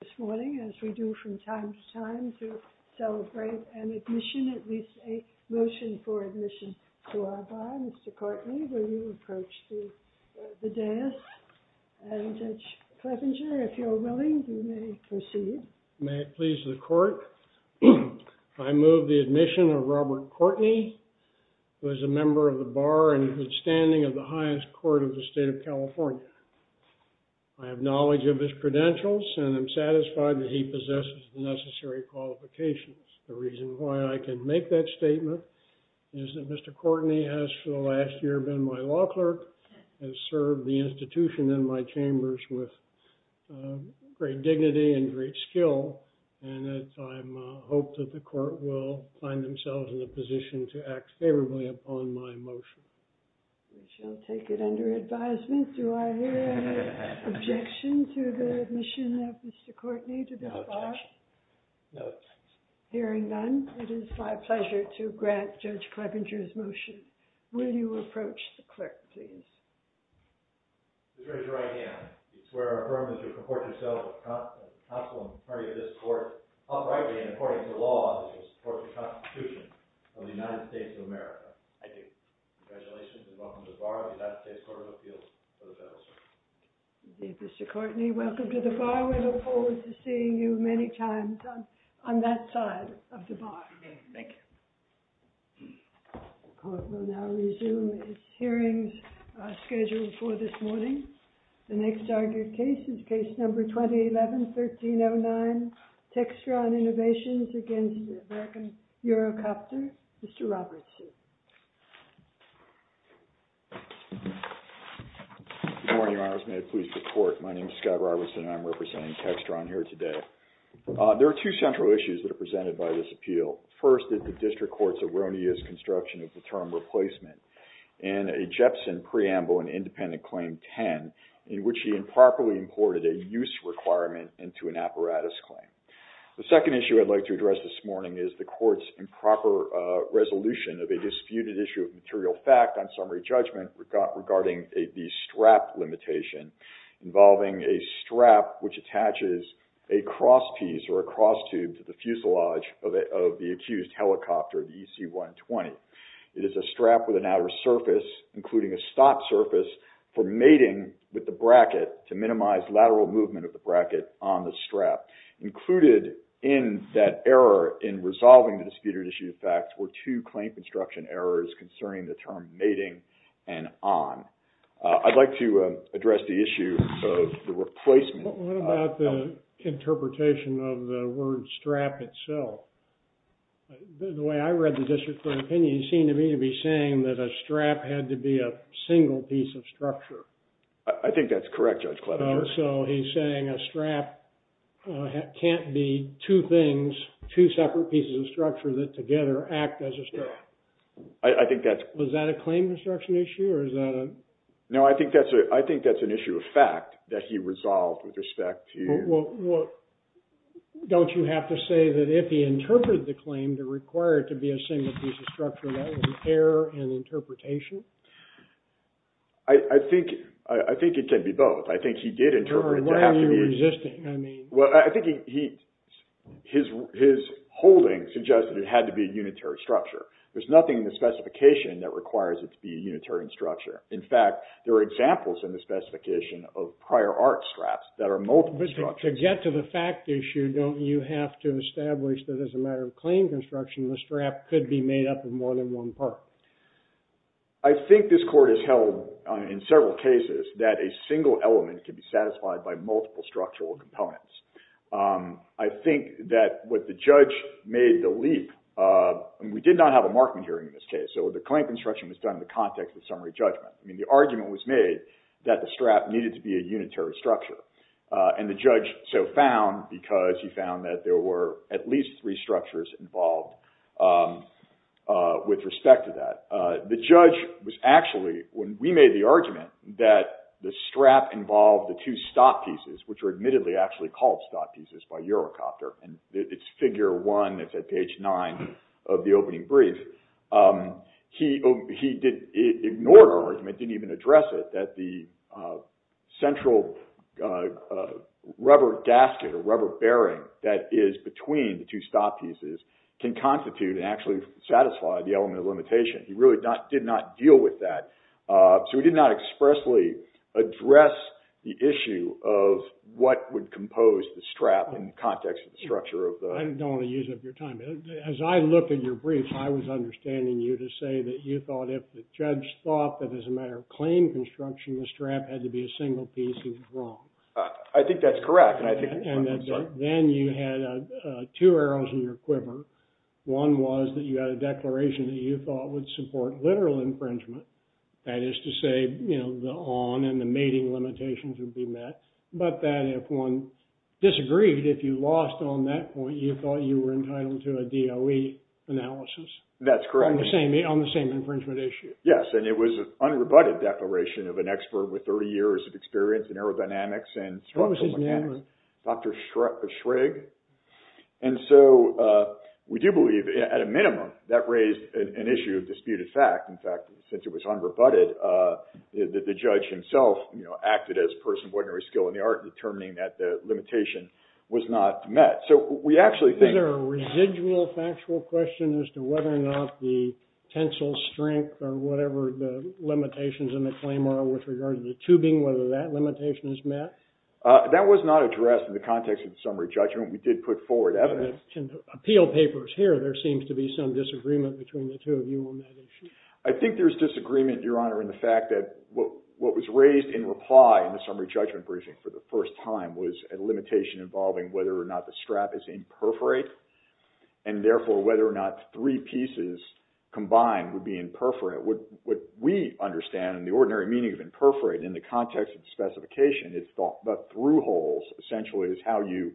This morning, as we do from time to time, to celebrate an admission, at least a motion for admission to our bar, Mr. Courtney, will you approach the dais? And Judge Clevenger, if you're willing, you may proceed. May it please the court, I move the admission of Robert Courtney, who is a member of the bar and standing of the highest court of the state of California. I have knowledge of his credentials, and I'm satisfied that he possesses the necessary qualifications. The reason why I can make that statement is that Mr. Courtney has, for the last year, been my law clerk, has served the institution in my chambers with great dignity and great skill, and I hope that the court will find themselves in a position to act favorably upon my motion. We shall take it under advisement. Do I hear an objection to the admission of Mr. Courtney to this bar? Hearing none, it is my pleasure to grant Judge Clevenger's motion. Will you approach the clerk, please? Mr. Courtney, welcome to the bar. We look forward to seeing you many times on that side of the bar. Thank you. The court will now resume its hearings scheduled for this morning. The next argued case is case number 2011-1309, Textron Innovations against the American Eurocopter. Mr. Robertson. Good morning, Your Honors. May it please the court, my name is Scott Robertson, and I'm representing Textron here today. There are two central issues that are presented by this appeal. First is the district court's erroneous construction of the term replacement in a Jepson preamble in independent claim 10, in which he improperly imported a use requirement into an apparatus claim. The second issue I'd like to address this morning is the court's improper resolution of a disputed issue of material fact on summary judgment regarding the strap limitation involving a strap which attaches a cross piece or a cross tube to the fuselage of the accused helicopter, the EC-120. It is a strap with an outer surface, including a stop surface for mating with the bracket to minimize lateral movement of the bracket on the strap. Included in that error in resolving the disputed issue of fact were two claim construction errors concerning the term mating and on. I'd like to address the issue of the replacement. What about the interpretation of the word strap itself? The way I read the district court opinion, he seemed to me to be saying that a strap had to be a single piece of structure. I think that's correct, Judge Klobuchar. So he's saying a strap can't be two things, two separate pieces of structure that together act as a strap. I think that's- Was that a claim construction issue or is that a- No, I think that's an issue of fact that he resolved with respect to- Well, don't you have to say that if he interpreted the claim to require it to be a single piece of structure, that was an error in interpretation? I think it can be both. I think he did interpret it to have to be- Why are you resisting? I mean- Well, I think his holding suggested it had to be a unitary structure. There's nothing in the specification that requires it to be a unitary structure. In fact, there are examples in the specification of prior art straps that are multiple structures. But to get to the fact issue, don't you have to establish that as a matter of claim construction, the strap could be made up of more than one part? I think this court has held in several cases that a single element can be satisfied by multiple structural components. I think that what the judge made the leap- I mean, we did not have a Markman hearing in this case, so the claim construction was done in the context of summary judgment. I mean, the argument was made that the strap needed to be a unitary structure. And the judge so found because he found that there were at least three structures involved with respect to that. The judge was actually- When we made the argument that the strap involved the two stock pieces, which were admittedly actually called stock pieces by Eurocopter, and it's figure one that's at page nine of the opening brief, he ignored our argument, didn't even address it, that the central rubber gasket or rubber bearing that is between the two stock pieces can constitute and actually satisfy the element of limitation. He really did not deal with that. So he did not expressly address the issue of what would compose the strap in the context of the structure of the- I don't want to use up your time. As I look at your brief, I was understanding you to say that you thought if the judge thought that as a matter of claim construction, the strap had to be a single piece, he was wrong. I think that's correct. And then you had two arrows in your quiver. One was that you had a declaration that you thought would support literal infringement. That is to say, you know, the on and the mating limitations would be met. But that if one disagreed, if you lost on that point, you thought you were entitled to a DOE analysis. That's correct. On the same infringement issue. Yes, and it was an unrebutted declaration of an expert with 30 years of experience in aerodynamics and structural mechanics. What was his name? Dr. Schrag. And so we do believe, at a minimum, that raised an issue of disputed fact. In fact, since it was unrebutted, the judge himself, you know, acted as a person of ordinary skill in the art in determining that the limitation was not met. So we actually think- Is there a residual factual question as to whether or not the tensile strength or whatever the limitations in the claim are with regard to the tubing, whether that limitation is met? That was not addressed in the context of the summary judgment. We did put forward evidence. In the appeal papers here, there seems to be some disagreement between the two of you on that issue. I think there's disagreement, Your Honor, in the fact that what was raised in reply in the summary judgment briefing for the first time was a limitation involving whether or not the strap is in perforate, and therefore whether or not three pieces combined would be in perforate. What we understand in the ordinary meaning of in perforate in the context of the specification is thought about through holes essentially as how you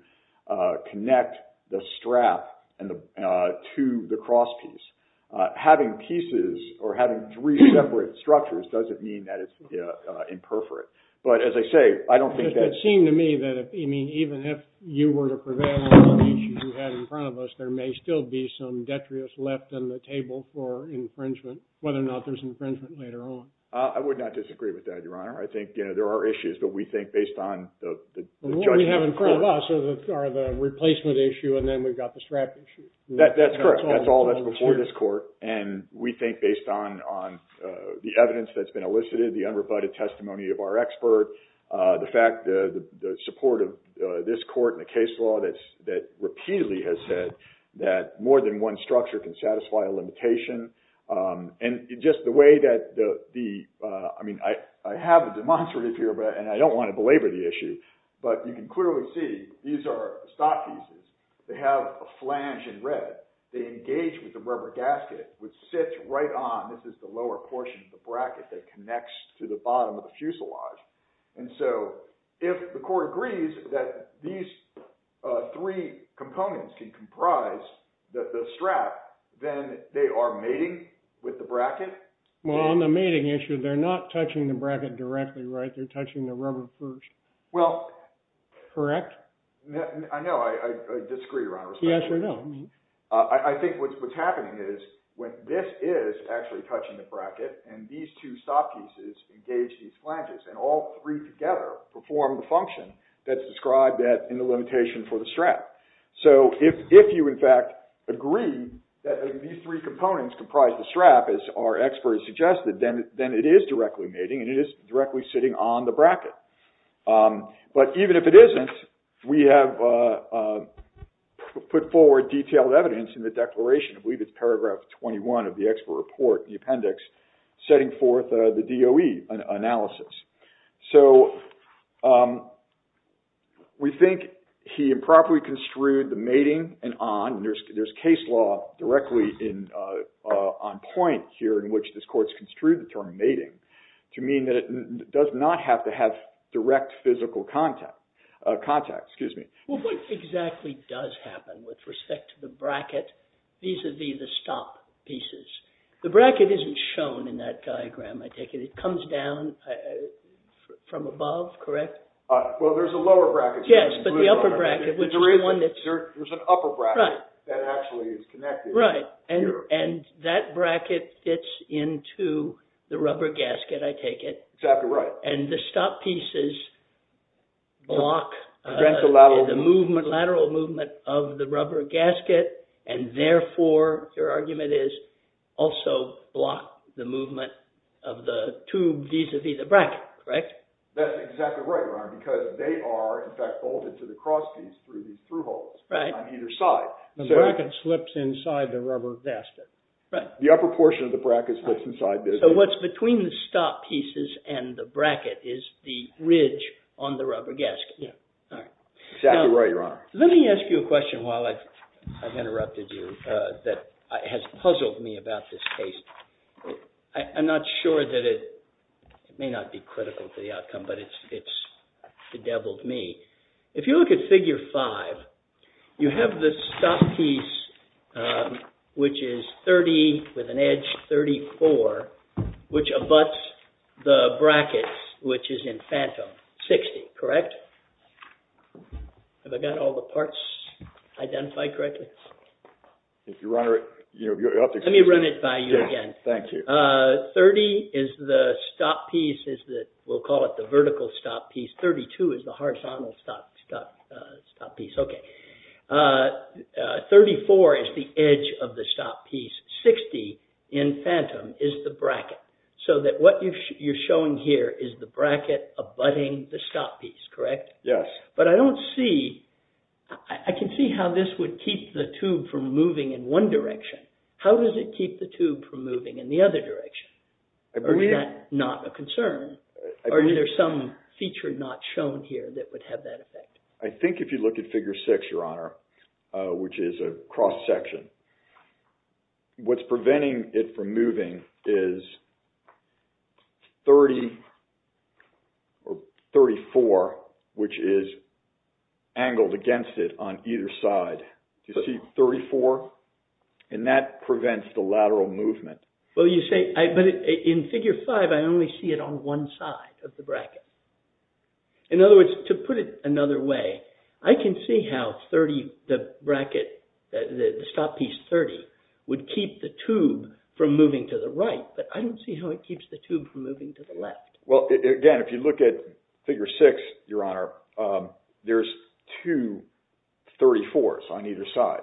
connect the strap to the cross piece. Having pieces or having three separate structures doesn't mean that it's in perforate. But as I say, I don't think that- Even if you were to prevail on the issue you had in front of us, there may still be some detrius left on the table for infringement, whether or not there's infringement later on. I would not disagree with that, Your Honor. I think there are issues, but we think based on the judgment- What we have in front of us are the replacement issue, and then we've got the strap issue. That's correct. That's all that's before this court. We think based on the evidence that's been elicited, the unrebutted testimony of our expert, the fact the support of this court and the case law that repeatedly has said that more than one structure can satisfy a limitation, and just the way that the- I have a demonstrative here, and I don't want to belabor the issue, but you can clearly see these are stock pieces. They have a flange in red. They engage with the rubber gasket, which sits right on- This is the lower portion of the bracket that connects to the bottom of the fuselage. And so if the court agrees that these three components can comprise the strap, then they are mating with the bracket? Well, on the mating issue, they're not touching the bracket directly, right? They're touching the rubber first. Well- Correct? I know. I disagree, Your Honor. I think what's happening is this is actually touching the bracket, and these two stock pieces engage these flanges, and all three together perform the function that's described in the limitation for the strap. So if you, in fact, agree that these three components comprise the strap, as our expert has suggested, then it is directly mating, and it is directly sitting on the bracket. But even if it isn't, we have put forward detailed evidence in the declaration. I believe it's paragraph 21 of the expert report, the appendix, setting forth the DOE analysis. So we think he improperly construed the mating and on. There's case law directly on point here in which this court's construed the term mating to mean that it does not have to have direct physical contact. Excuse me. Well, what exactly does happen with respect to the bracket vis-a-vis the stock pieces? The bracket isn't shown in that diagram, I take it. It comes down from above, correct? Well, there's a lower bracket. Yes, but the upper bracket, which is the one that's... There's an upper bracket that actually is connected. Right, and that bracket fits into the rubber gasket, I take it. Exactly right. And the stock pieces block the lateral movement of the rubber gasket, and therefore, your argument is, also block the movement of the tube vis-a-vis the bracket, correct? That's exactly right, because they are, in fact, bolted to the cross piece through these through holes on either side. The bracket slips inside the rubber gasket. Right. The upper portion of the bracket slips inside this. What's between the stock pieces and the bracket is the ridge on the rubber gasket. Yeah. All right. Exactly right, Your Honor. Let me ask you a question while I've interrupted you that has puzzled me about this case. I'm not sure that it may not be critical to the outcome, but it's bedeviled me. If you look at Figure 5, you have the stock piece, which is 30 with an edge, 34, which abuts the bracket, which is in phantom, 60, correct? Have I got all the parts identified correctly? If Your Honor... Let me run it by you again. Thank you. 30 is the stock piece. We'll call it the vertical stock piece. 32 is the horizontal stock piece. Okay. 34 is the edge of the stock piece. 60 in phantom is the bracket, so that what you're showing here is the bracket abutting the stock piece, correct? Yes. But I don't see... I can see how this would keep the tube from moving in one direction. How does it keep the tube from moving in the other direction? I believe... Or is that not a concern? I believe... Or is there some feature not shown here that would have that effect? I think if you look at Figure 6, Your Honor, which is a cross-section, what's preventing it from moving is 30 or 34, which is angled against it on either side. You see 34? And that prevents the lateral movement. Well, you say... But in Figure 5, I only see it on one side of the bracket. In other words, to put it another way, I can see how 30, the bracket, the stock piece 30, would keep the tube from moving to the right, but I don't see how it keeps the tube from moving to the left. Well, again, if you look at Figure 6, Your Honor, there's two 34s on either side.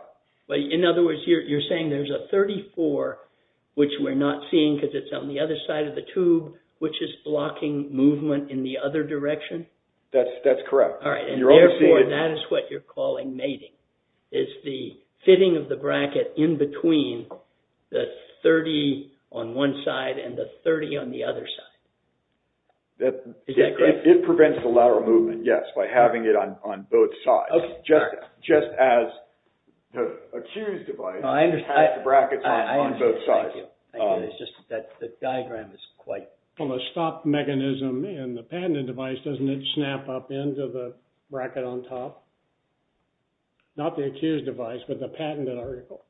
In other words, you're saying there's a 34, which we're not seeing because it's on the other side of the tube, which is blocking movement in the other direction? That's correct. All right. And therefore, that is what you're calling mating. It's the fitting of the bracket in between the 30 on one side and the 30 on the other side. Is that correct? It prevents the lateral movement, yes, by having it on both sides. Okay. Just as a Q's device has brackets on both sides. I understand. Thank you. It's just that the diagram is quite... Well, the stop mechanism in the patented device, doesn't it snap up into the bracket on top? Not the accused device, but the patented article.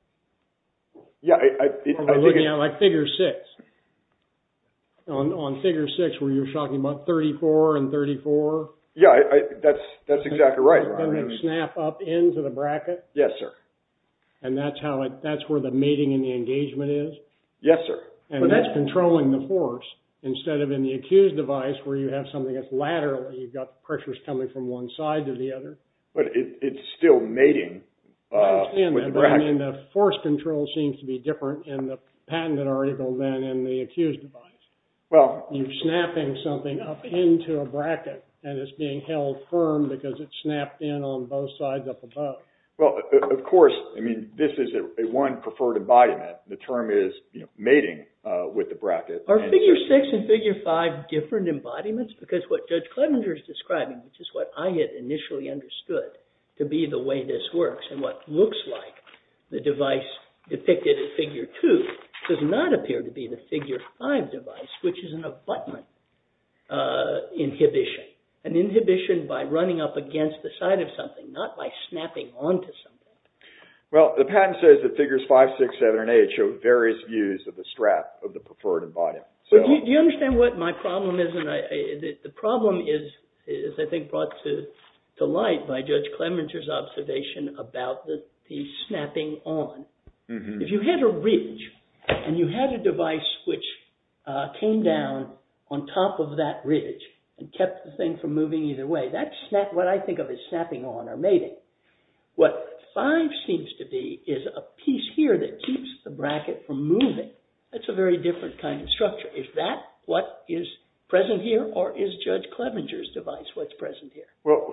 Yeah, I think... Like Figure 6. On Figure 6, where you're talking about 34 and 34. Yeah, that's exactly right. Doesn't it snap up into the bracket? Yes, sir. And that's where the mating and the engagement is? Yes, sir. And that's controlling the force. Instead of in the accused device, where you have something that's laterally, you've got pressures coming from one side to the other. But it's still mating with the bracket. I understand that, but I mean the force control seems to be different in the patented article than in the accused device. Well... You're snapping something up into a bracket, and it's being held firm because it's snapped in on both sides up above. Well, of course, I mean, this is a one preferred embodiment. The term is mating with the bracket. Are Figure 6 and Figure 5 different embodiments? Because what Judge Clevenger is describing, which is what I had initially understood to be the way this works, and what looks like the device depicted in Figure 2, does not appear to be the Figure 5 device, which is an abutment inhibition. An inhibition by running up against the side of something, not by snapping onto something. Well, the patent says that Figures 5, 6, 7, and 8 show various views of the strap of the preferred embodiment. Do you understand what my problem is? The problem is, I think, brought to light by Judge Clevenger's observation about the snapping on. If you had a ridge, and you had a device which came down on top of that ridge and kept the thing from moving either way, that's what I think of as snapping on or mating. What 5 seems to be is a piece here that keeps the bracket from moving. That's a very different kind of structure. Is that what is present here, or is Judge Clevenger's device what's present here? Well,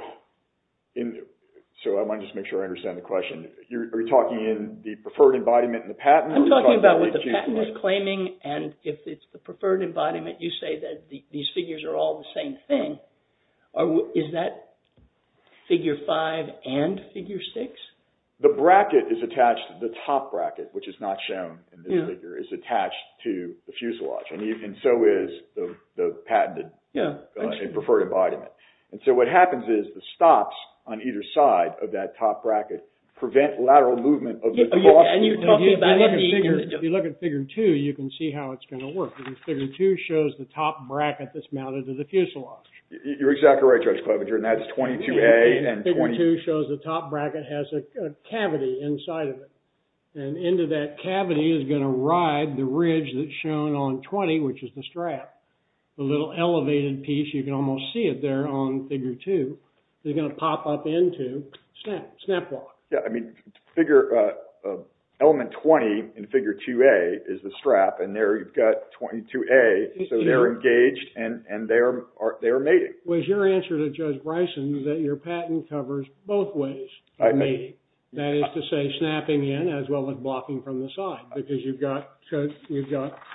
so I want to just make sure I understand the question. Are you talking in the preferred embodiment and the patent? I'm talking about what the patent is claiming, and if it's the preferred embodiment, you say that these figures are all the same thing. Is that Figure 5 and Figure 6? The bracket is attached to the top bracket, which is not shown in this figure. It's attached to the fuselage, and so is the patented and preferred embodiment. And so what happens is the stops on either side of that top bracket prevent lateral movement of the boss. If you look at Figure 2, you can see how it's going to work. Figure 2 shows the top bracket that's mounted to the fuselage. You're exactly right, Judge Clevenger, and that's 22A and 22A. Figure 2 shows the top bracket has a cavity inside of it, and into that cavity is going to ride the ridge that's shown on 20, which is the strap. The little elevated piece, you can almost see it there on Figure 2, is going to pop up into SnapLock. Element 20 in Figure 2A is the strap, and there you've got 22A, so they're engaged and they're mating. Was your answer to Judge Bryson that your patent covers both ways of mating? That is to say, snapping in as well as blocking from the side, because you've got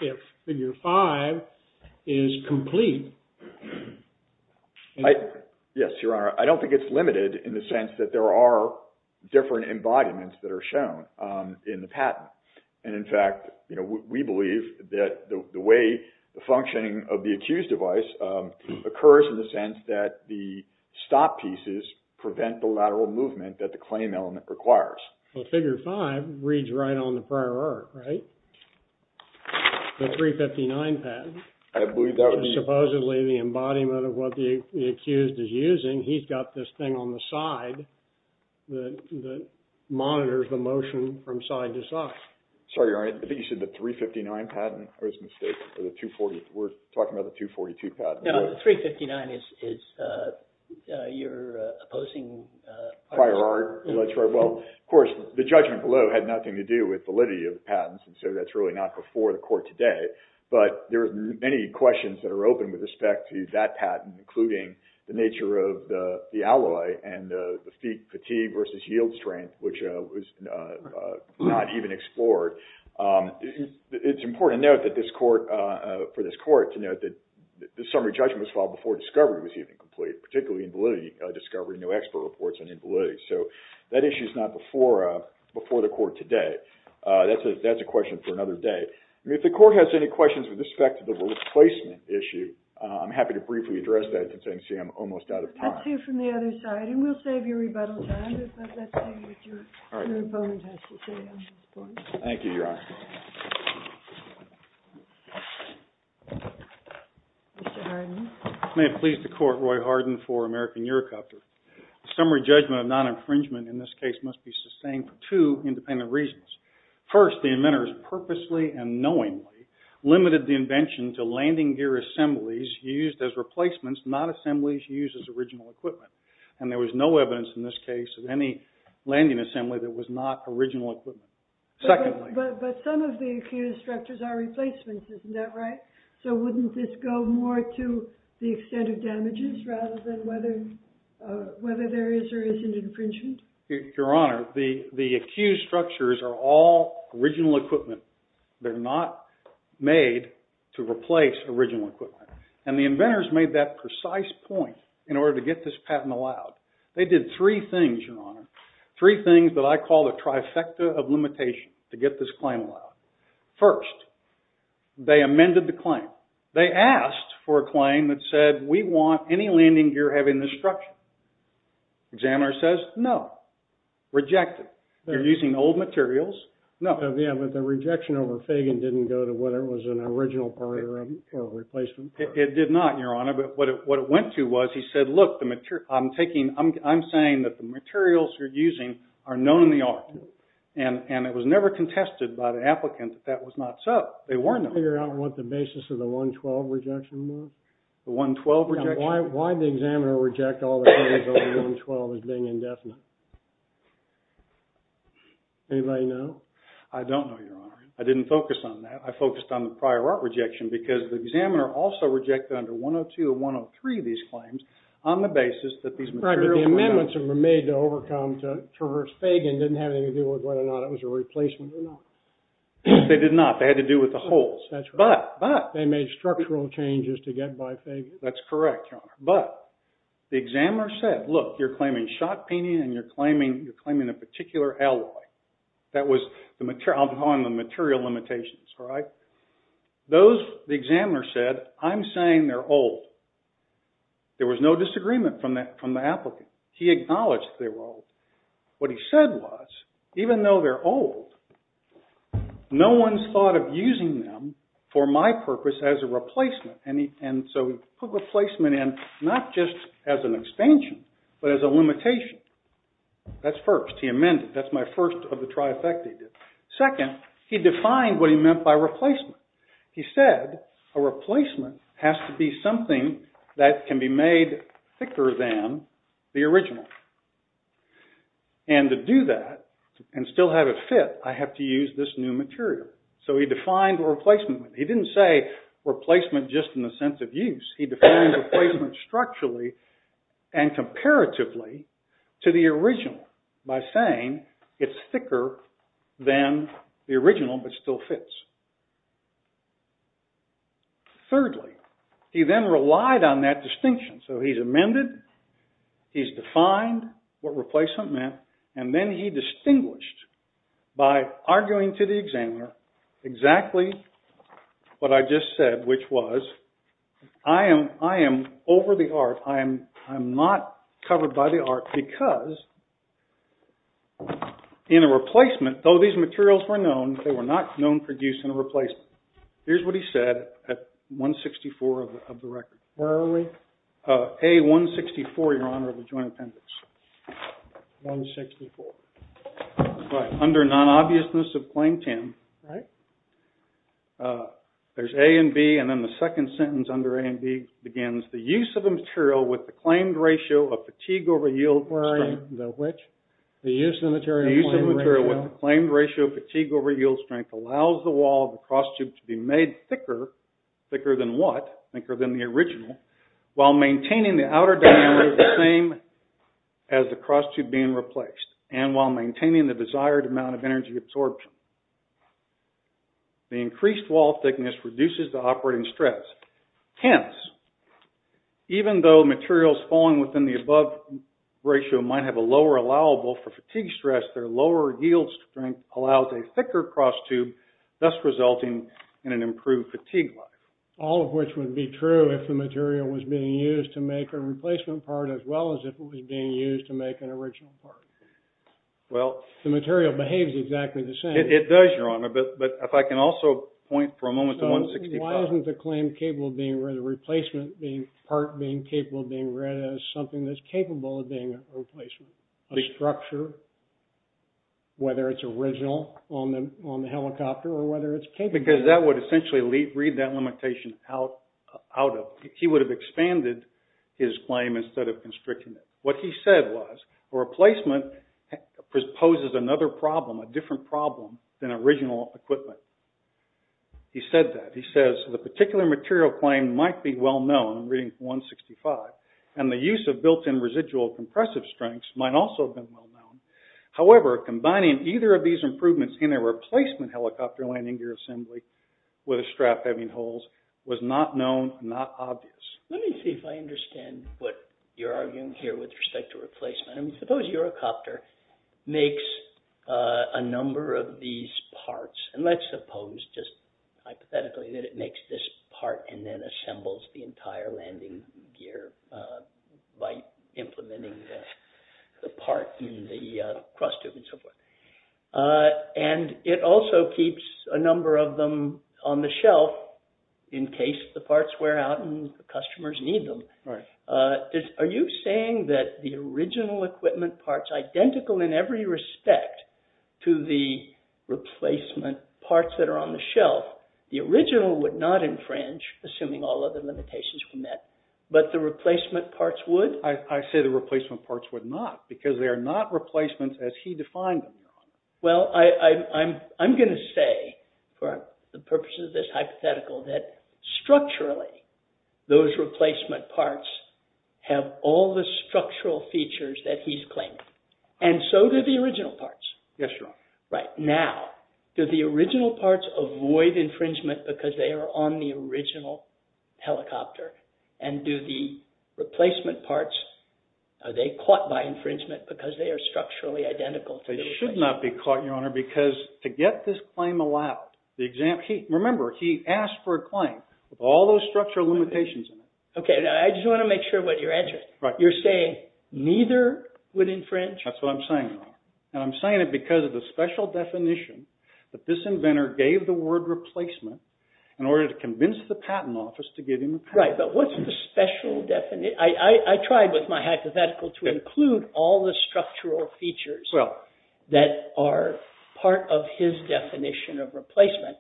if Figure 5 is complete. Yes, Your Honor. I don't think it's limited in the sense that there are different embodiments that are shown in the patent. In fact, we believe that the way the functioning of the accused device occurs in the sense that the stop pieces prevent the lateral movement that the claim element requires. Figure 5 reads right on the prior art, right? The 359 patent. Supposedly, the embodiment of what the accused is using, he's got this thing on the side that monitors the motion from side to side. Sorry, Your Honor. I think you said the 359 patent. I was mistaken. We're talking about the 242 patent. No, the 359 is your opposing prior art. Prior art. Well, of course, the judgment below had nothing to do with validity of the patents, and so that's really not before the court today. But there are many questions that are open with respect to that patent, including the nature of the alloy and the fatigue versus yield strength, which was not even explored. It's important for this court to note that the summary judgment was filed before discovery was even complete, particularly in validity discovery. No expert reports on invalidity. So that issue is not before the court today. That's a question for another day. If the court has any questions with respect to the replacement issue, I'm happy to briefly address that since I can see I'm almost out of time. Let's hear from the other side, and we'll save your rebuttal time. But let's see what your opponent has to say on this point. Thank you, Your Honor. Mr. Hardin. May it please the court, Roy Hardin for American Eurocopter. The summary judgment of non-infringement in this case must be sustained for two independent reasons. First, the inventors purposely and knowingly limited the invention to landing gear assemblies used as replacements, not assemblies used as original equipment. And there was no evidence in this case of any landing assembly that was not original equipment. But some of the accused structures are replacements, isn't that right? So wouldn't this go more to the extent of damages rather than whether there is or isn't infringement? Your Honor, the accused structures are all original equipment. They're not made to replace original equipment. And the inventors made that precise point in order to get this patent allowed. They did three things, Your Honor, three things that I call the trifecta of limitation to get this claim allowed. First, they amended the claim. They asked for a claim that said we want any landing gear having this structure. Examiner says no, rejected. They're using old materials, no. Yeah, but the rejection over Fagan didn't go to whether it was an original part or a replacement part. It did not, Your Honor. But what it went to was he said, look, I'm saying that the materials you're using are known in the art. And it was never contested by the applicant that that was not so. They weren't. Can you figure out what the basis of the 112 rejection was? The 112 rejection? Why did the examiner reject all the claims over 112 as being indefinite? Anybody know? I don't know, Your Honor. I didn't focus on that. I focused on the prior art rejection because the examiner also rejected under 102 and 103 these claims on the basis that these materials were known. Right, but the amendments that were made to overcome to traverse Fagan didn't have anything to do with whether or not it was a replacement or not. They did not. They had to do with the holes. That's right. But, but. They made structural changes to get by Fagan. That's correct, Your Honor. But the examiner said, look, you're claiming shot peening and you're claiming a particular alloy. That was on the material limitations, right? Those, the examiner said, I'm saying they're old. There was no disagreement from the applicant. He acknowledged they were old. What he said was, even though they're old, no one's thought of using them for my purpose as a replacement. And so he put replacement in not just as an expansion, but as a limitation. That's first. He amended. That's my first of the trifecta he did. Second, he defined what he meant by replacement. He said a replacement has to be something that can be made thicker than the original. And to do that and still have it fit, I have to use this new material. So he defined replacement. He didn't say replacement just in the sense of use. He defined replacement structurally and comparatively to the original by saying it's thicker than the original but still fits. Thirdly, he then relied on that distinction. So he's amended. He's defined what replacement meant. And then he distinguished by arguing to the examiner exactly what I just said, which was I am over the art. I am not covered by the art because in a replacement, though these materials were known, they were not known for use in a replacement. Here's what he said at 164 of the record. Where are we? A164, Your Honor, of the Joint Appendix. 164. Under non-obviousness of claim 10, there's A and B. And then the second sentence under A and B begins, The use of the material with the claimed ratio of fatigue over yield strength allows the wall of the cross tube to be made thicker. Thicker than what? Thicker than the original while maintaining the outer diameter the same as the cross tube being replaced and while maintaining the desired amount of energy absorption. The increased wall thickness reduces the operating stress. Hence, even though materials falling within the above ratio might have a lower allowable for fatigue stress, their lower yield strength allows a thicker cross tube, thus resulting in an improved fatigue life. All of which would be true if the material was being used to make a replacement part as well as if it was being used to make an original part. Well. The material behaves exactly the same. It does, Your Honor. But if I can also point for a moment to 165. Why wasn't the claim capable of being where the replacement being part being capable of being read as something that's capable of being a replacement? The structure, whether it's original on the helicopter or whether it's capable. Because that would essentially read that limitation out of. He would have expanded his claim instead of constricting it. What he said was, a replacement poses another problem, a different problem than original equipment. He said that. He says, the particular material claim might be well known. I'm reading from 165. And the use of built-in residual compressive strengths might also have been well known. However, combining either of these improvements in a replacement helicopter landing gear assembly with a strap having holes was not known, not obvious. Let me see if I understand what you're arguing here with respect to replacement. Suppose your helicopter makes a number of these parts. And let's suppose, just hypothetically, that it makes this part and then assembles the entire landing gear by implementing the part in the cross tube and so forth. And it also keeps a number of them on the shelf in case the parts wear out and the customers need them. Are you saying that the original equipment parts, identical in every respect to the replacement parts that are on the shelf, the original would not infringe, assuming all other limitations were met, but the replacement parts would? I say the replacement parts would not because they are not replacements as he defined them. Well, I'm going to say, for the purposes of this hypothetical, that structurally, those replacement parts have all the structural features that he's claiming. And so do the original parts. Yes, Your Honor. Right. Now, do the original parts avoid infringement because they are on the original helicopter? And do the replacement parts, are they caught by infringement because they are structurally identical? They should not be caught, Your Honor, because to get this claim allowed, remember, he asked for a claim with all those structural limitations in it. Okay. Now, I just want to make sure what you're answering. Right. You're saying neither would infringe? That's what I'm saying, Your Honor. And I'm saying it because of the special definition that this inventor gave the word replacement in order to convince the patent office to give him the patent. Right. But what's the special definition? I tried with my hypothetical to include all the structural features. Well. That are part of his definition of replacement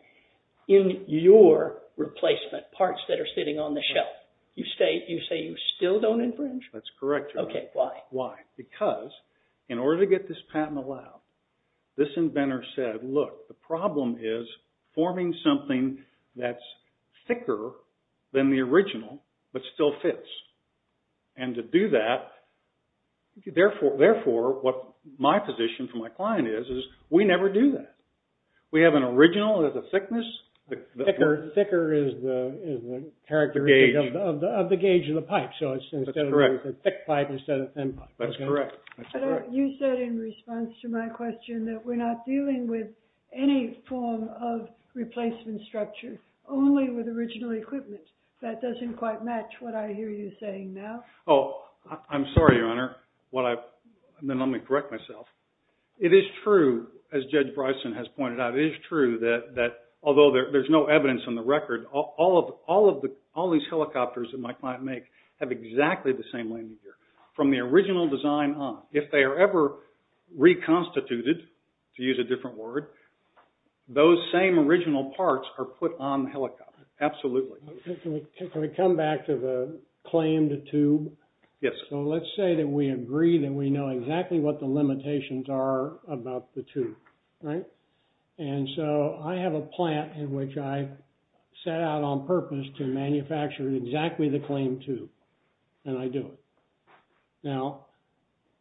in your replacement parts that are sitting on the shelf. You say you still don't infringe? That's correct, Your Honor. Okay. Why? Why? Because in order to get this patent allowed, this inventor said, look, the problem is forming something that's thicker than the original but still fits. And to do that, therefore, what my position for my client is, is we never do that. We have an original that's a thickness. Thicker is the characteristic of the gauge of the pipe. That's correct. So instead of a thick pipe, instead of a thin pipe. That's correct. You said in response to my question that we're not dealing with any form of replacement structure, only with original equipment. That doesn't quite match what I hear you saying now. Oh, I'm sorry, Your Honor. Then let me correct myself. It is true, as Judge Bryson has pointed out, it is true that although there's no evidence on the record, all these helicopters that my client makes have exactly the same landing gear. From the original design on. If they are ever reconstituted, to use a different word, those same original parts are put on the helicopter. Absolutely. Can we come back to the claimed tube? Yes, sir. So let's say that we agree that we know exactly what the limitations are about the tube, right? And so I have a plant in which I set out on purpose to manufacture exactly the claimed tube, and I do it. Now,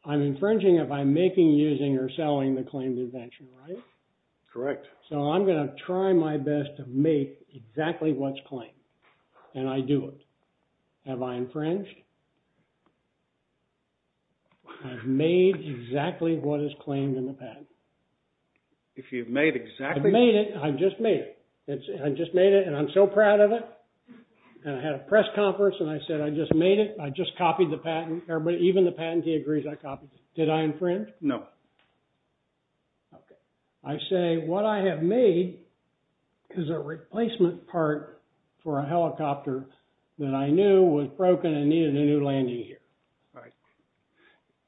I'm infringing if I'm making, using, or selling the claimed invention, right? Correct. So I'm going to try my best to make exactly what's claimed, and I do it. Have I infringed? I've made exactly what is claimed in the patent. If you've made exactly... I've made it. I've just made it. I just made it, and I'm so proud of it. And I had a press conference, and I said, I just made it. I just copied the patent. Even the patentee agrees I copied it. Did I infringe? No. Okay. I say what I have made is a replacement part for a helicopter that I knew was broken and needed a new landing gear. Right.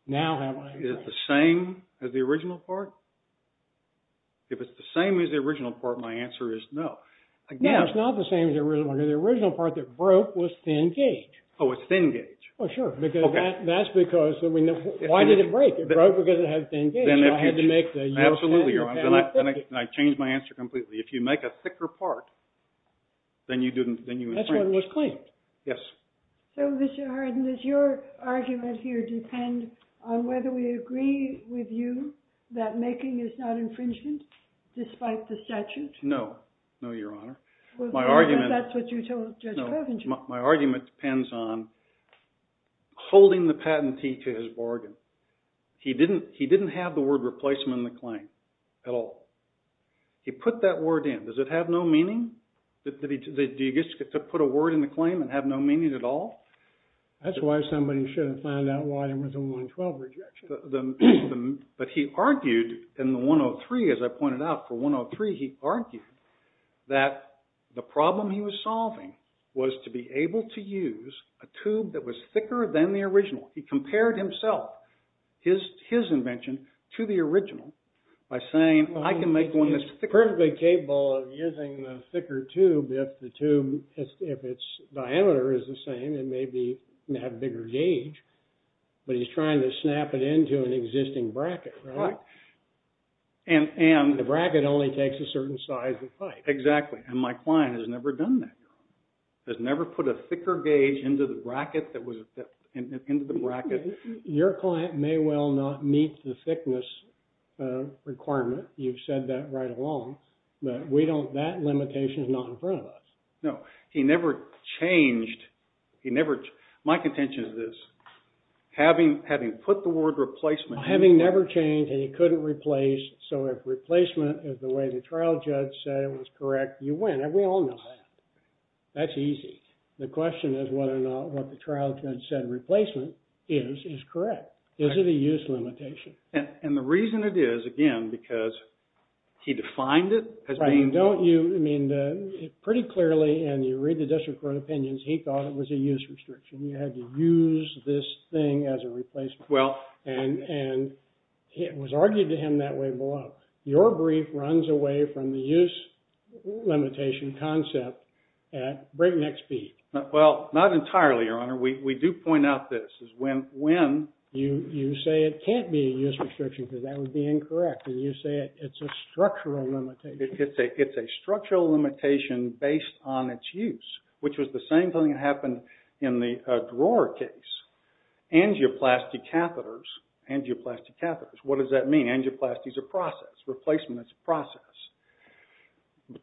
Now have I infringed? Is it the same as the original part? If it's the same as the original part, my answer is no. No, it's not the same as the original part. The original part that broke was 10-gauge. Oh, it's 10-gauge. Oh, sure. Okay. That's because... Why did it break? It broke because it had 10-gauge, and I had to make the... Absolutely, Your Honor. And I changed my answer completely. If you make a thicker part, then you infringe. That's why it was claimed. Yes. So, Mr. Hardin, does your argument here depend on whether we agree with you that making is not infringement despite the statute? No. No, Your Honor. Well, that's what you told Judge Covington. My argument depends on holding the patentee to his bargain. He didn't have the word replacement in the claim at all. He put that word in. Does it have no meaning? Do you get to put a word in the claim and have no meaning at all? That's why somebody should have found out why there was a 112 rejection. But he argued in the 103, as I pointed out, for 103, he argued that the problem he was solving was to be able to use a tube that was thicker than the original. He compared himself, his invention, to the original by saying, I can make one that's thicker. He's perfectly capable of using the thicker tube if the tube, if its diameter is the same, it may have a bigger gauge. But he's trying to snap it into an existing bracket, right? The bracket only takes a certain size of pipe. Exactly. And my client has never done that. He's never put a thicker gauge into the bracket. Your client may well not meet the thickness requirement. You've said that right along. But we don't, that limitation is not in front of us. No. He never changed, he never, my contention is this. Having put the word replacement. Having never changed and he couldn't replace. So if replacement is the way the trial judge said it was correct, you win. And we all know that. That's easy. The question is whether or not what the trial judge said replacement is, is correct. Is it a use limitation? And the reason it is, again, because he defined it as being. Right. And don't you, I mean, pretty clearly and you read the district court opinions, he thought it was a use restriction. You had to use this thing as a replacement. Well. And it was argued to him that way below. Your brief runs away from the use limitation concept at breakneck speed. Well, not entirely, Your Honor. We do point out this. When. You say it can't be a use restriction because that would be incorrect. And you say it's a structural limitation. It's a structural limitation based on its use. Which was the same thing that happened in the drawer case. Angioplasty catheters. Angioplasty catheters. What does that mean? Angioplasty is a process. Replacement is a process.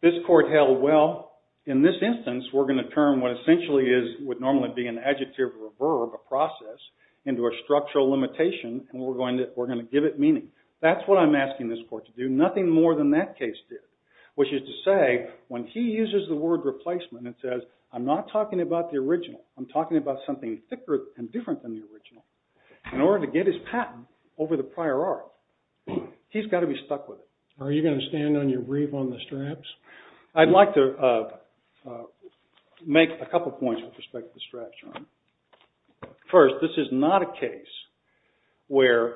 This court held, well, in this instance, we're going to turn what essentially is, would normally be an adjective or a verb, a process, into a structural limitation. And we're going to give it meaning. That's what I'm asking this court to do. Nothing more than that case did. Which is to say, when he uses the word replacement and says, I'm not talking about the original. I'm talking about something thicker and different than the original. In order to get his patent over the prior art. He's got to be stuck with it. Are you going to stand on your brief on the straps? I'd like to make a couple points with respect to the straps, John. First, this is not a case where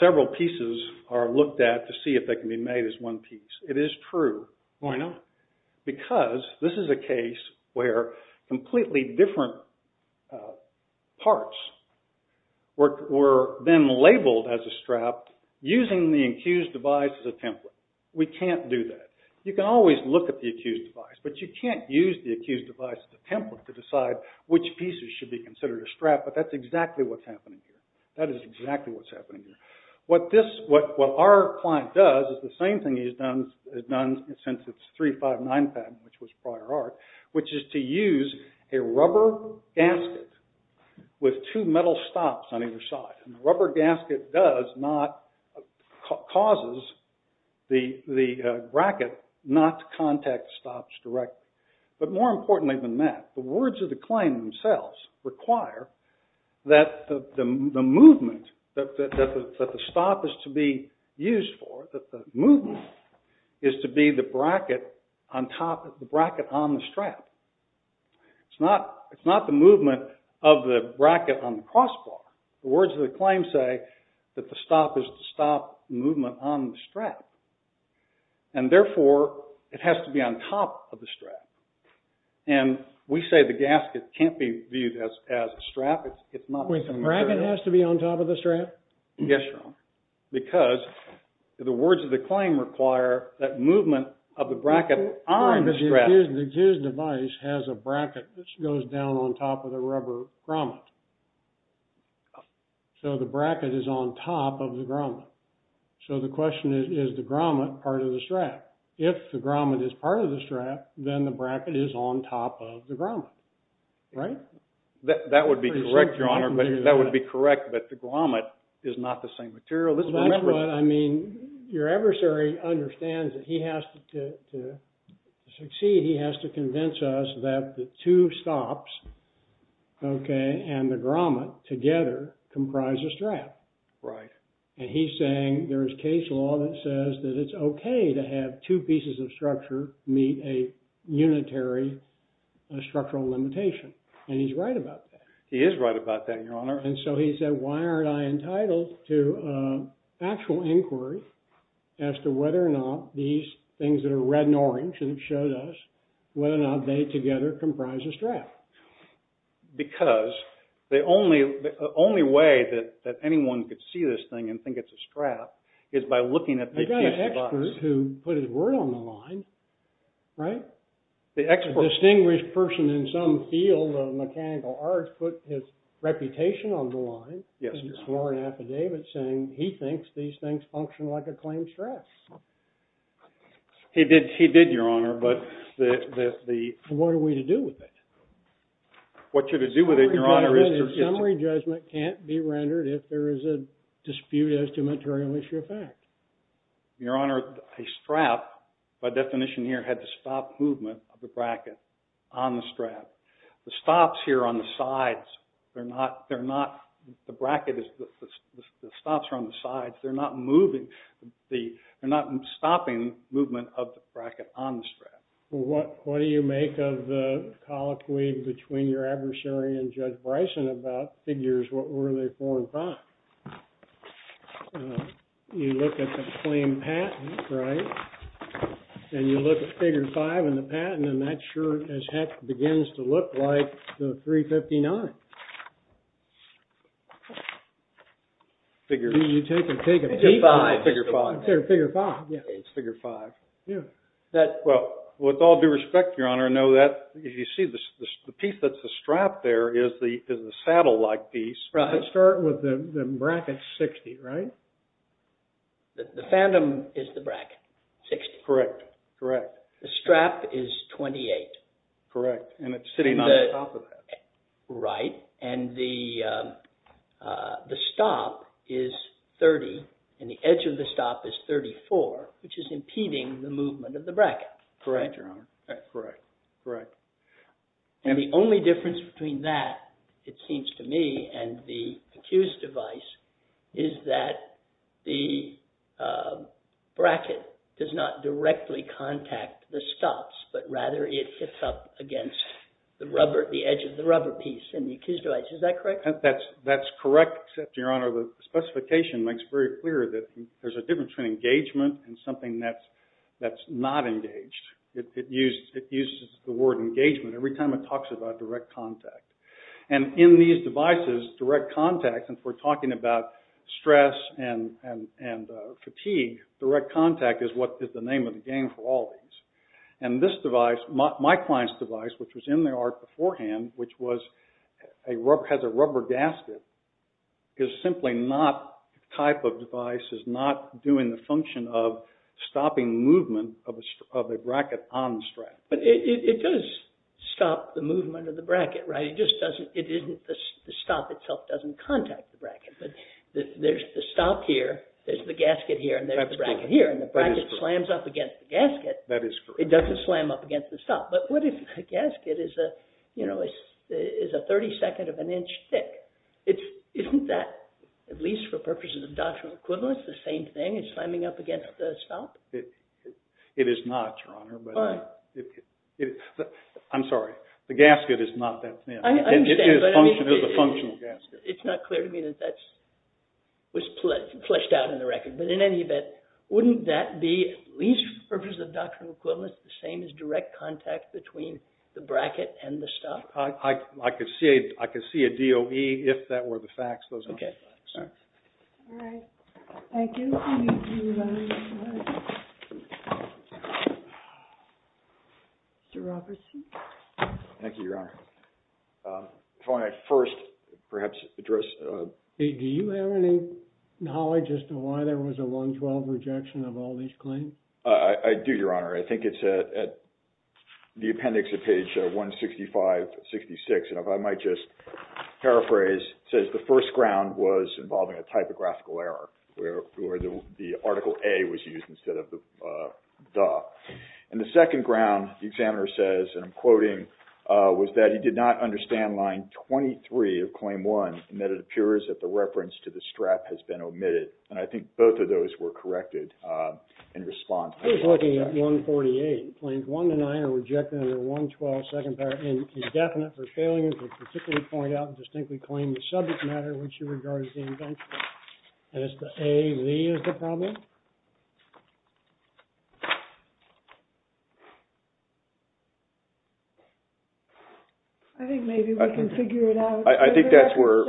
several pieces are looked at to see if they can be made as one piece. It is true. Why not? Because this is a case where completely different parts were then labeled as a strap using the accused device as a template. We can't do that. You can always look at the accused device. But you can't use the accused device as a template to decide which pieces should be considered a strap. But that's exactly what's happening here. That is exactly what's happening here. What our client does is the same thing he's done since it's 359 patent, which was prior art, which is to use a rubber gasket with two metal stops on either side. And the rubber gasket causes the bracket not to contact stops directly. But more importantly than that, the words of the claim themselves require that the movement, that the stop is to be used for, that the movement is to be the bracket on the strap. It's not the movement of the bracket on the crossbar. The words of the claim say that the stop is the stop movement on the strap. And therefore, it has to be on top of the strap. And we say the gasket can't be viewed as a strap. The bracket has to be on top of the strap? Yes, Your Honor. Because the words of the claim require that movement of the bracket on the strap. The accused device has a bracket that goes down on top of the rubber grommet. So the bracket is on top of the grommet. So the question is, is the grommet part of the strap? If the grommet is part of the strap, then the bracket is on top of the grommet. Right? That would be correct, Your Honor. That would be correct. But the grommet is not the same material. That's what I mean. Your adversary understands that he has to succeed. He has to convince us that the two stops, okay, and the grommet together comprise a strap. Right. And he's saying there is case law that says that it's okay to have two pieces of structure meet a unitary structural limitation. And he's right about that. He is right about that, Your Honor. And so he said, why aren't I entitled to actual inquiry as to whether or not these things that are red and orange, and it shows us whether or not they together comprise a strap? Because the only way that anyone could see this thing and think it's a strap is by looking at the accused device. I've got an expert who put his word on the line. Right? A distinguished person in some field of mechanical arts put his reputation on the line and swore an affidavit saying he thinks these things function like a claimed strap. He did, Your Honor, but the – What are we to do with it? What you're to do with it, Your Honor, is – Summary judgment can't be rendered if there is a dispute as to material issue of fact. Your Honor, a strap, by definition here, had to stop movement of the bracket on the strap. The stops here on the sides, they're not – They're not – The bracket is – The stops are on the sides. They're not moving. They're not stopping movement of the bracket on the strap. Well, what do you make of the colloquy between your adversary and Judge Bryson about figures? What were they for and for not? You look at the claimed patent, right? And you look at Figure 5 in the patent, and that sure as heck begins to look like the 359. Figure – You take a – It's a 5. Figure 5. Figure 5, yeah. It's Figure 5. Yeah. Well, with all due respect, Your Honor, no, that – You see, the piece that's a strap there is the saddle-like piece. Right. It starts with the bracket 60, right? The phantom is the bracket 60. Correct. Correct. The strap is 28. Correct. And it's sitting on top of that. Right. And the stop is 30, and the edge of the stop is 34, which is impeding the movement of the bracket. Correct, Your Honor. Correct. Correct. And the only difference between that, it seems to me, and the accused device is that the bracket does not directly contact the stops, but rather it hits up against the rubber – the edge of the rubber piece in the accused device. Is that correct? That's correct, except, Your Honor, the specification makes it very clear that there's a difference between engagement and something that's not engaged. It uses the word engagement every time it talks about direct contact. And in these devices, direct contact, and if we're talking about stress and fatigue, direct contact is the name of the game for all of these. And this device, my client's device, which was in the art beforehand, which has a rubber gasket, is simply not – the type of device is not doing the function of stopping movement of a bracket on the strap. But it does stop the movement of the bracket, right? It just doesn't – it isn't – the stop itself doesn't contact the bracket. But there's the stop here, there's the gasket here, and there's the bracket here, and the bracket slams up against the gasket. That is correct. It doesn't slam up against the stop. But what if the gasket is a – you know, is a 32nd of an inch thick? Isn't that, at least for purposes of doctrinal equivalence, the same thing? It's slamming up against the stop? It is not, Your Honor. All right. I'm sorry. The gasket is not that thin. I understand. It is a functional gasket. It's not clear to me that that was fleshed out in the record. But in any event, wouldn't that be, at least for purposes of doctrinal equivalence, the same as direct contact between the bracket and the stop? I could see a DOE if that were the facts. Okay. All right. Thank you. Thank you, Your Honor. Mr. Robertson? Thank you, Your Honor. Before I first perhaps address – do you have any knowledge as to why there was a 112 rejection of all these claims? I do, Your Honor. I think it's at the appendix at page 165-66. And if I might just paraphrase, it says the first ground was involving a typographical error where the Article A was used instead of the DAW. And the second ground, the examiner says, and I'm quoting, was that he did not understand line 23 of Claim 1 and that it appears that the reference to the strap has been omitted. And I think both of those were corrected in response. He's looking at 148. Claims 1 to 9 are rejected under 112, second paragraph, indefinite for failure to particularly point out and distinctly claim the subject matter in which he regards the invention. Mr. A, we have a problem? I think maybe we can figure it out. I think that's where –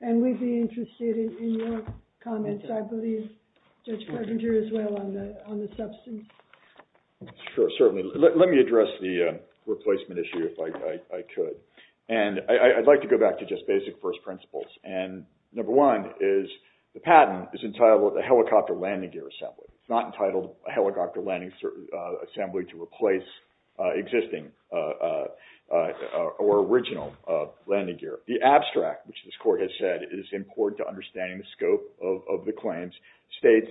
And we'd be interested in your comments. I believe Judge Carpenter as well on the substance. Sure, certainly. Let me address the replacement issue if I could. And I'd like to go back to just basic first principles. And number one is the patent is entitled a helicopter landing gear assembly. It's not entitled a helicopter landing assembly to replace existing or original landing gear. The abstract, which this court has said is important to understanding the scope of the claims, states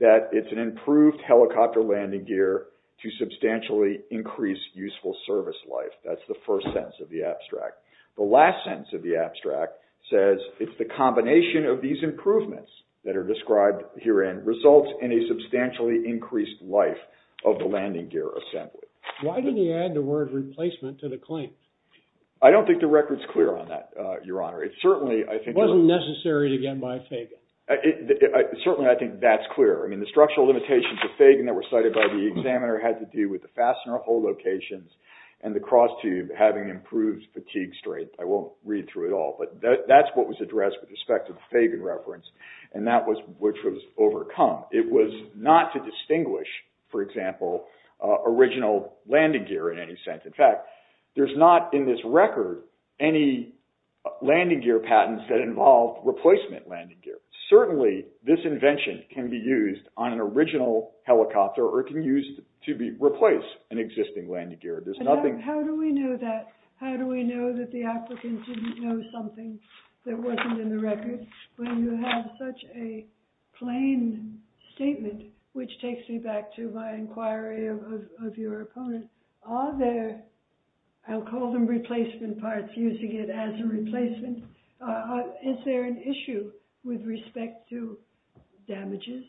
that it's an improved helicopter landing gear to substantially increase useful service life. That's the first sentence of the abstract. The last sentence of the abstract says it's the combination of these improvements that are described herein results in a substantially increased life of the landing gear assembly. Why didn't he add the word replacement to the claim? I don't think the record's clear on that, Your Honor. It certainly, I think – It wasn't necessary to get by Fagan. Certainly, I think that's clear. I mean, the structural limitations of Fagan that were cited by the examiner had to do with the fastener hole locations and the cross tube having improved fatigue strength. I won't read through it all, but that's what was addressed with respect to the Fagan reference, and that was – which was overcome. It was not to distinguish, for example, original landing gear in any sense. In fact, there's not in this record any landing gear patents that involved replacement landing gear. Certainly, this invention can be used on an original helicopter or it can be used to replace an existing landing gear. There's nothing – How do we know that? How do we know that the applicant didn't know something that wasn't in the record? When you have such a plain statement, which takes me back to my inquiry of your opponent, are there – I'll call them replacement parts, using it as a replacement. Is there an issue with respect to damages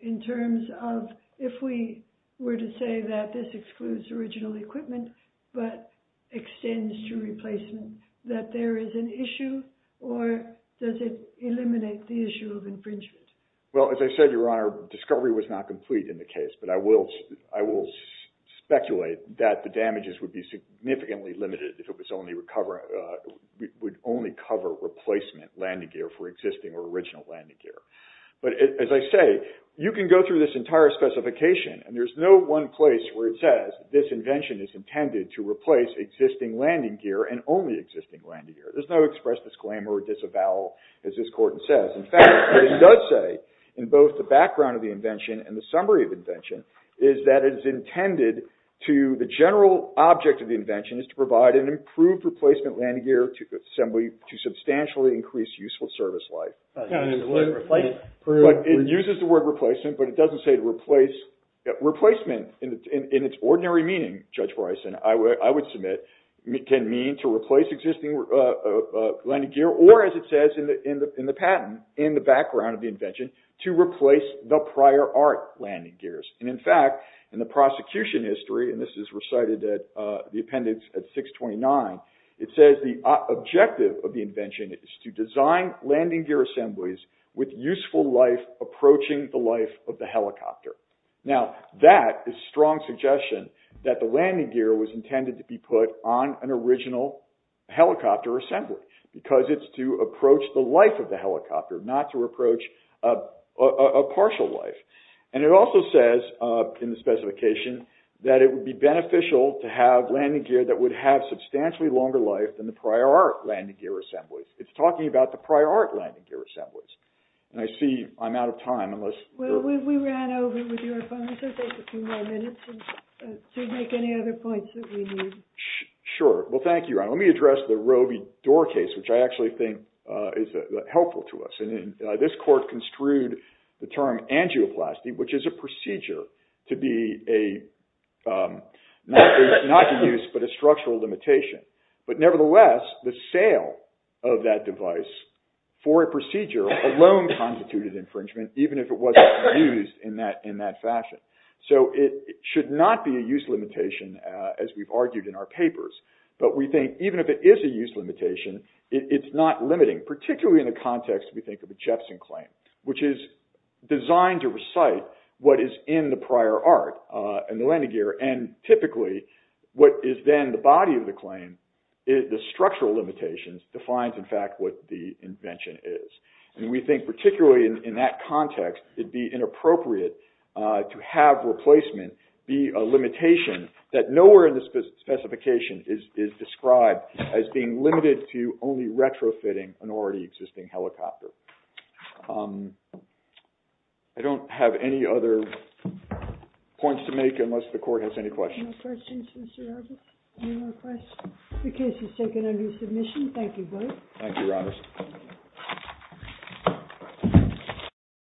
in terms of if we were to say that this excludes original equipment but extends to replacement, that there is an issue, or does it eliminate the issue of infringement? Well, as I said, Your Honor, discovery was not complete in the case, but I will speculate that the damages would be significantly limited if it was only – would only cover replacement landing gear for existing or original landing gear. But as I say, you can go through this entire specification and there's no one place where it says this invention is intended to replace existing landing gear and only existing landing gear. There's no express disclaimer or disavowal, as this court says. In fact, what it does say, in both the background of the invention and the summary of the invention, is that it is intended to – the general object of the invention is to provide an improved replacement landing gear to substantially increase useful service life. It uses the word replacement, but it doesn't say to replace. Replacement, in its ordinary meaning, Judge Bryson, I would submit, can mean to replace existing landing gear or, as it says in the patent, in the background of the invention, to replace the prior art landing gears. And in fact, in the prosecution history, and this is recited at the appendix at 629, it says the objective of the invention is to design landing gear assemblies with useful life approaching the life of the helicopter. Now, that is a strong suggestion that the landing gear was intended to be put on an original helicopter assembly because it's to approach the life of the helicopter, not to approach a partial life. And it also says, in the specification, that it would be beneficial to have landing gear that would have substantially longer life than the prior art landing gear assemblies. It's talking about the prior art landing gear assemblies. And I see I'm out of time unless... Well, we ran over with your appointment, so take a few more minutes to make any other points that we need. Sure. Well, thank you, Ron. Let me address the Roe v. Dorr case, which I actually think is helpful to us. This court construed the term angioplasty, which is a procedure to be a... not a use, but a structural limitation. But nevertheless, the sale of that device for a procedure alone constituted infringement, even if it wasn't used in that fashion. So it should not be a use limitation, as we've argued in our papers. But we think, even if it is a use limitation, it's not limiting, particularly in the context, we think, of a Jepson claim, which is designed to recite what is in the prior art and the landing gear. And typically, what is then the body of the claim is the structural limitations, defines, in fact, what the invention is. And we think, particularly in that context, it'd be inappropriate to have replacement be a limitation that nowhere in the specification is described as being limited to only retrofitting an already existing helicopter. I don't have any other points to make, unless the court has any questions. Any more questions, Mr. Roberts? Any more questions? The case is taken under submission. Thank you, both. Thank you, Roberts.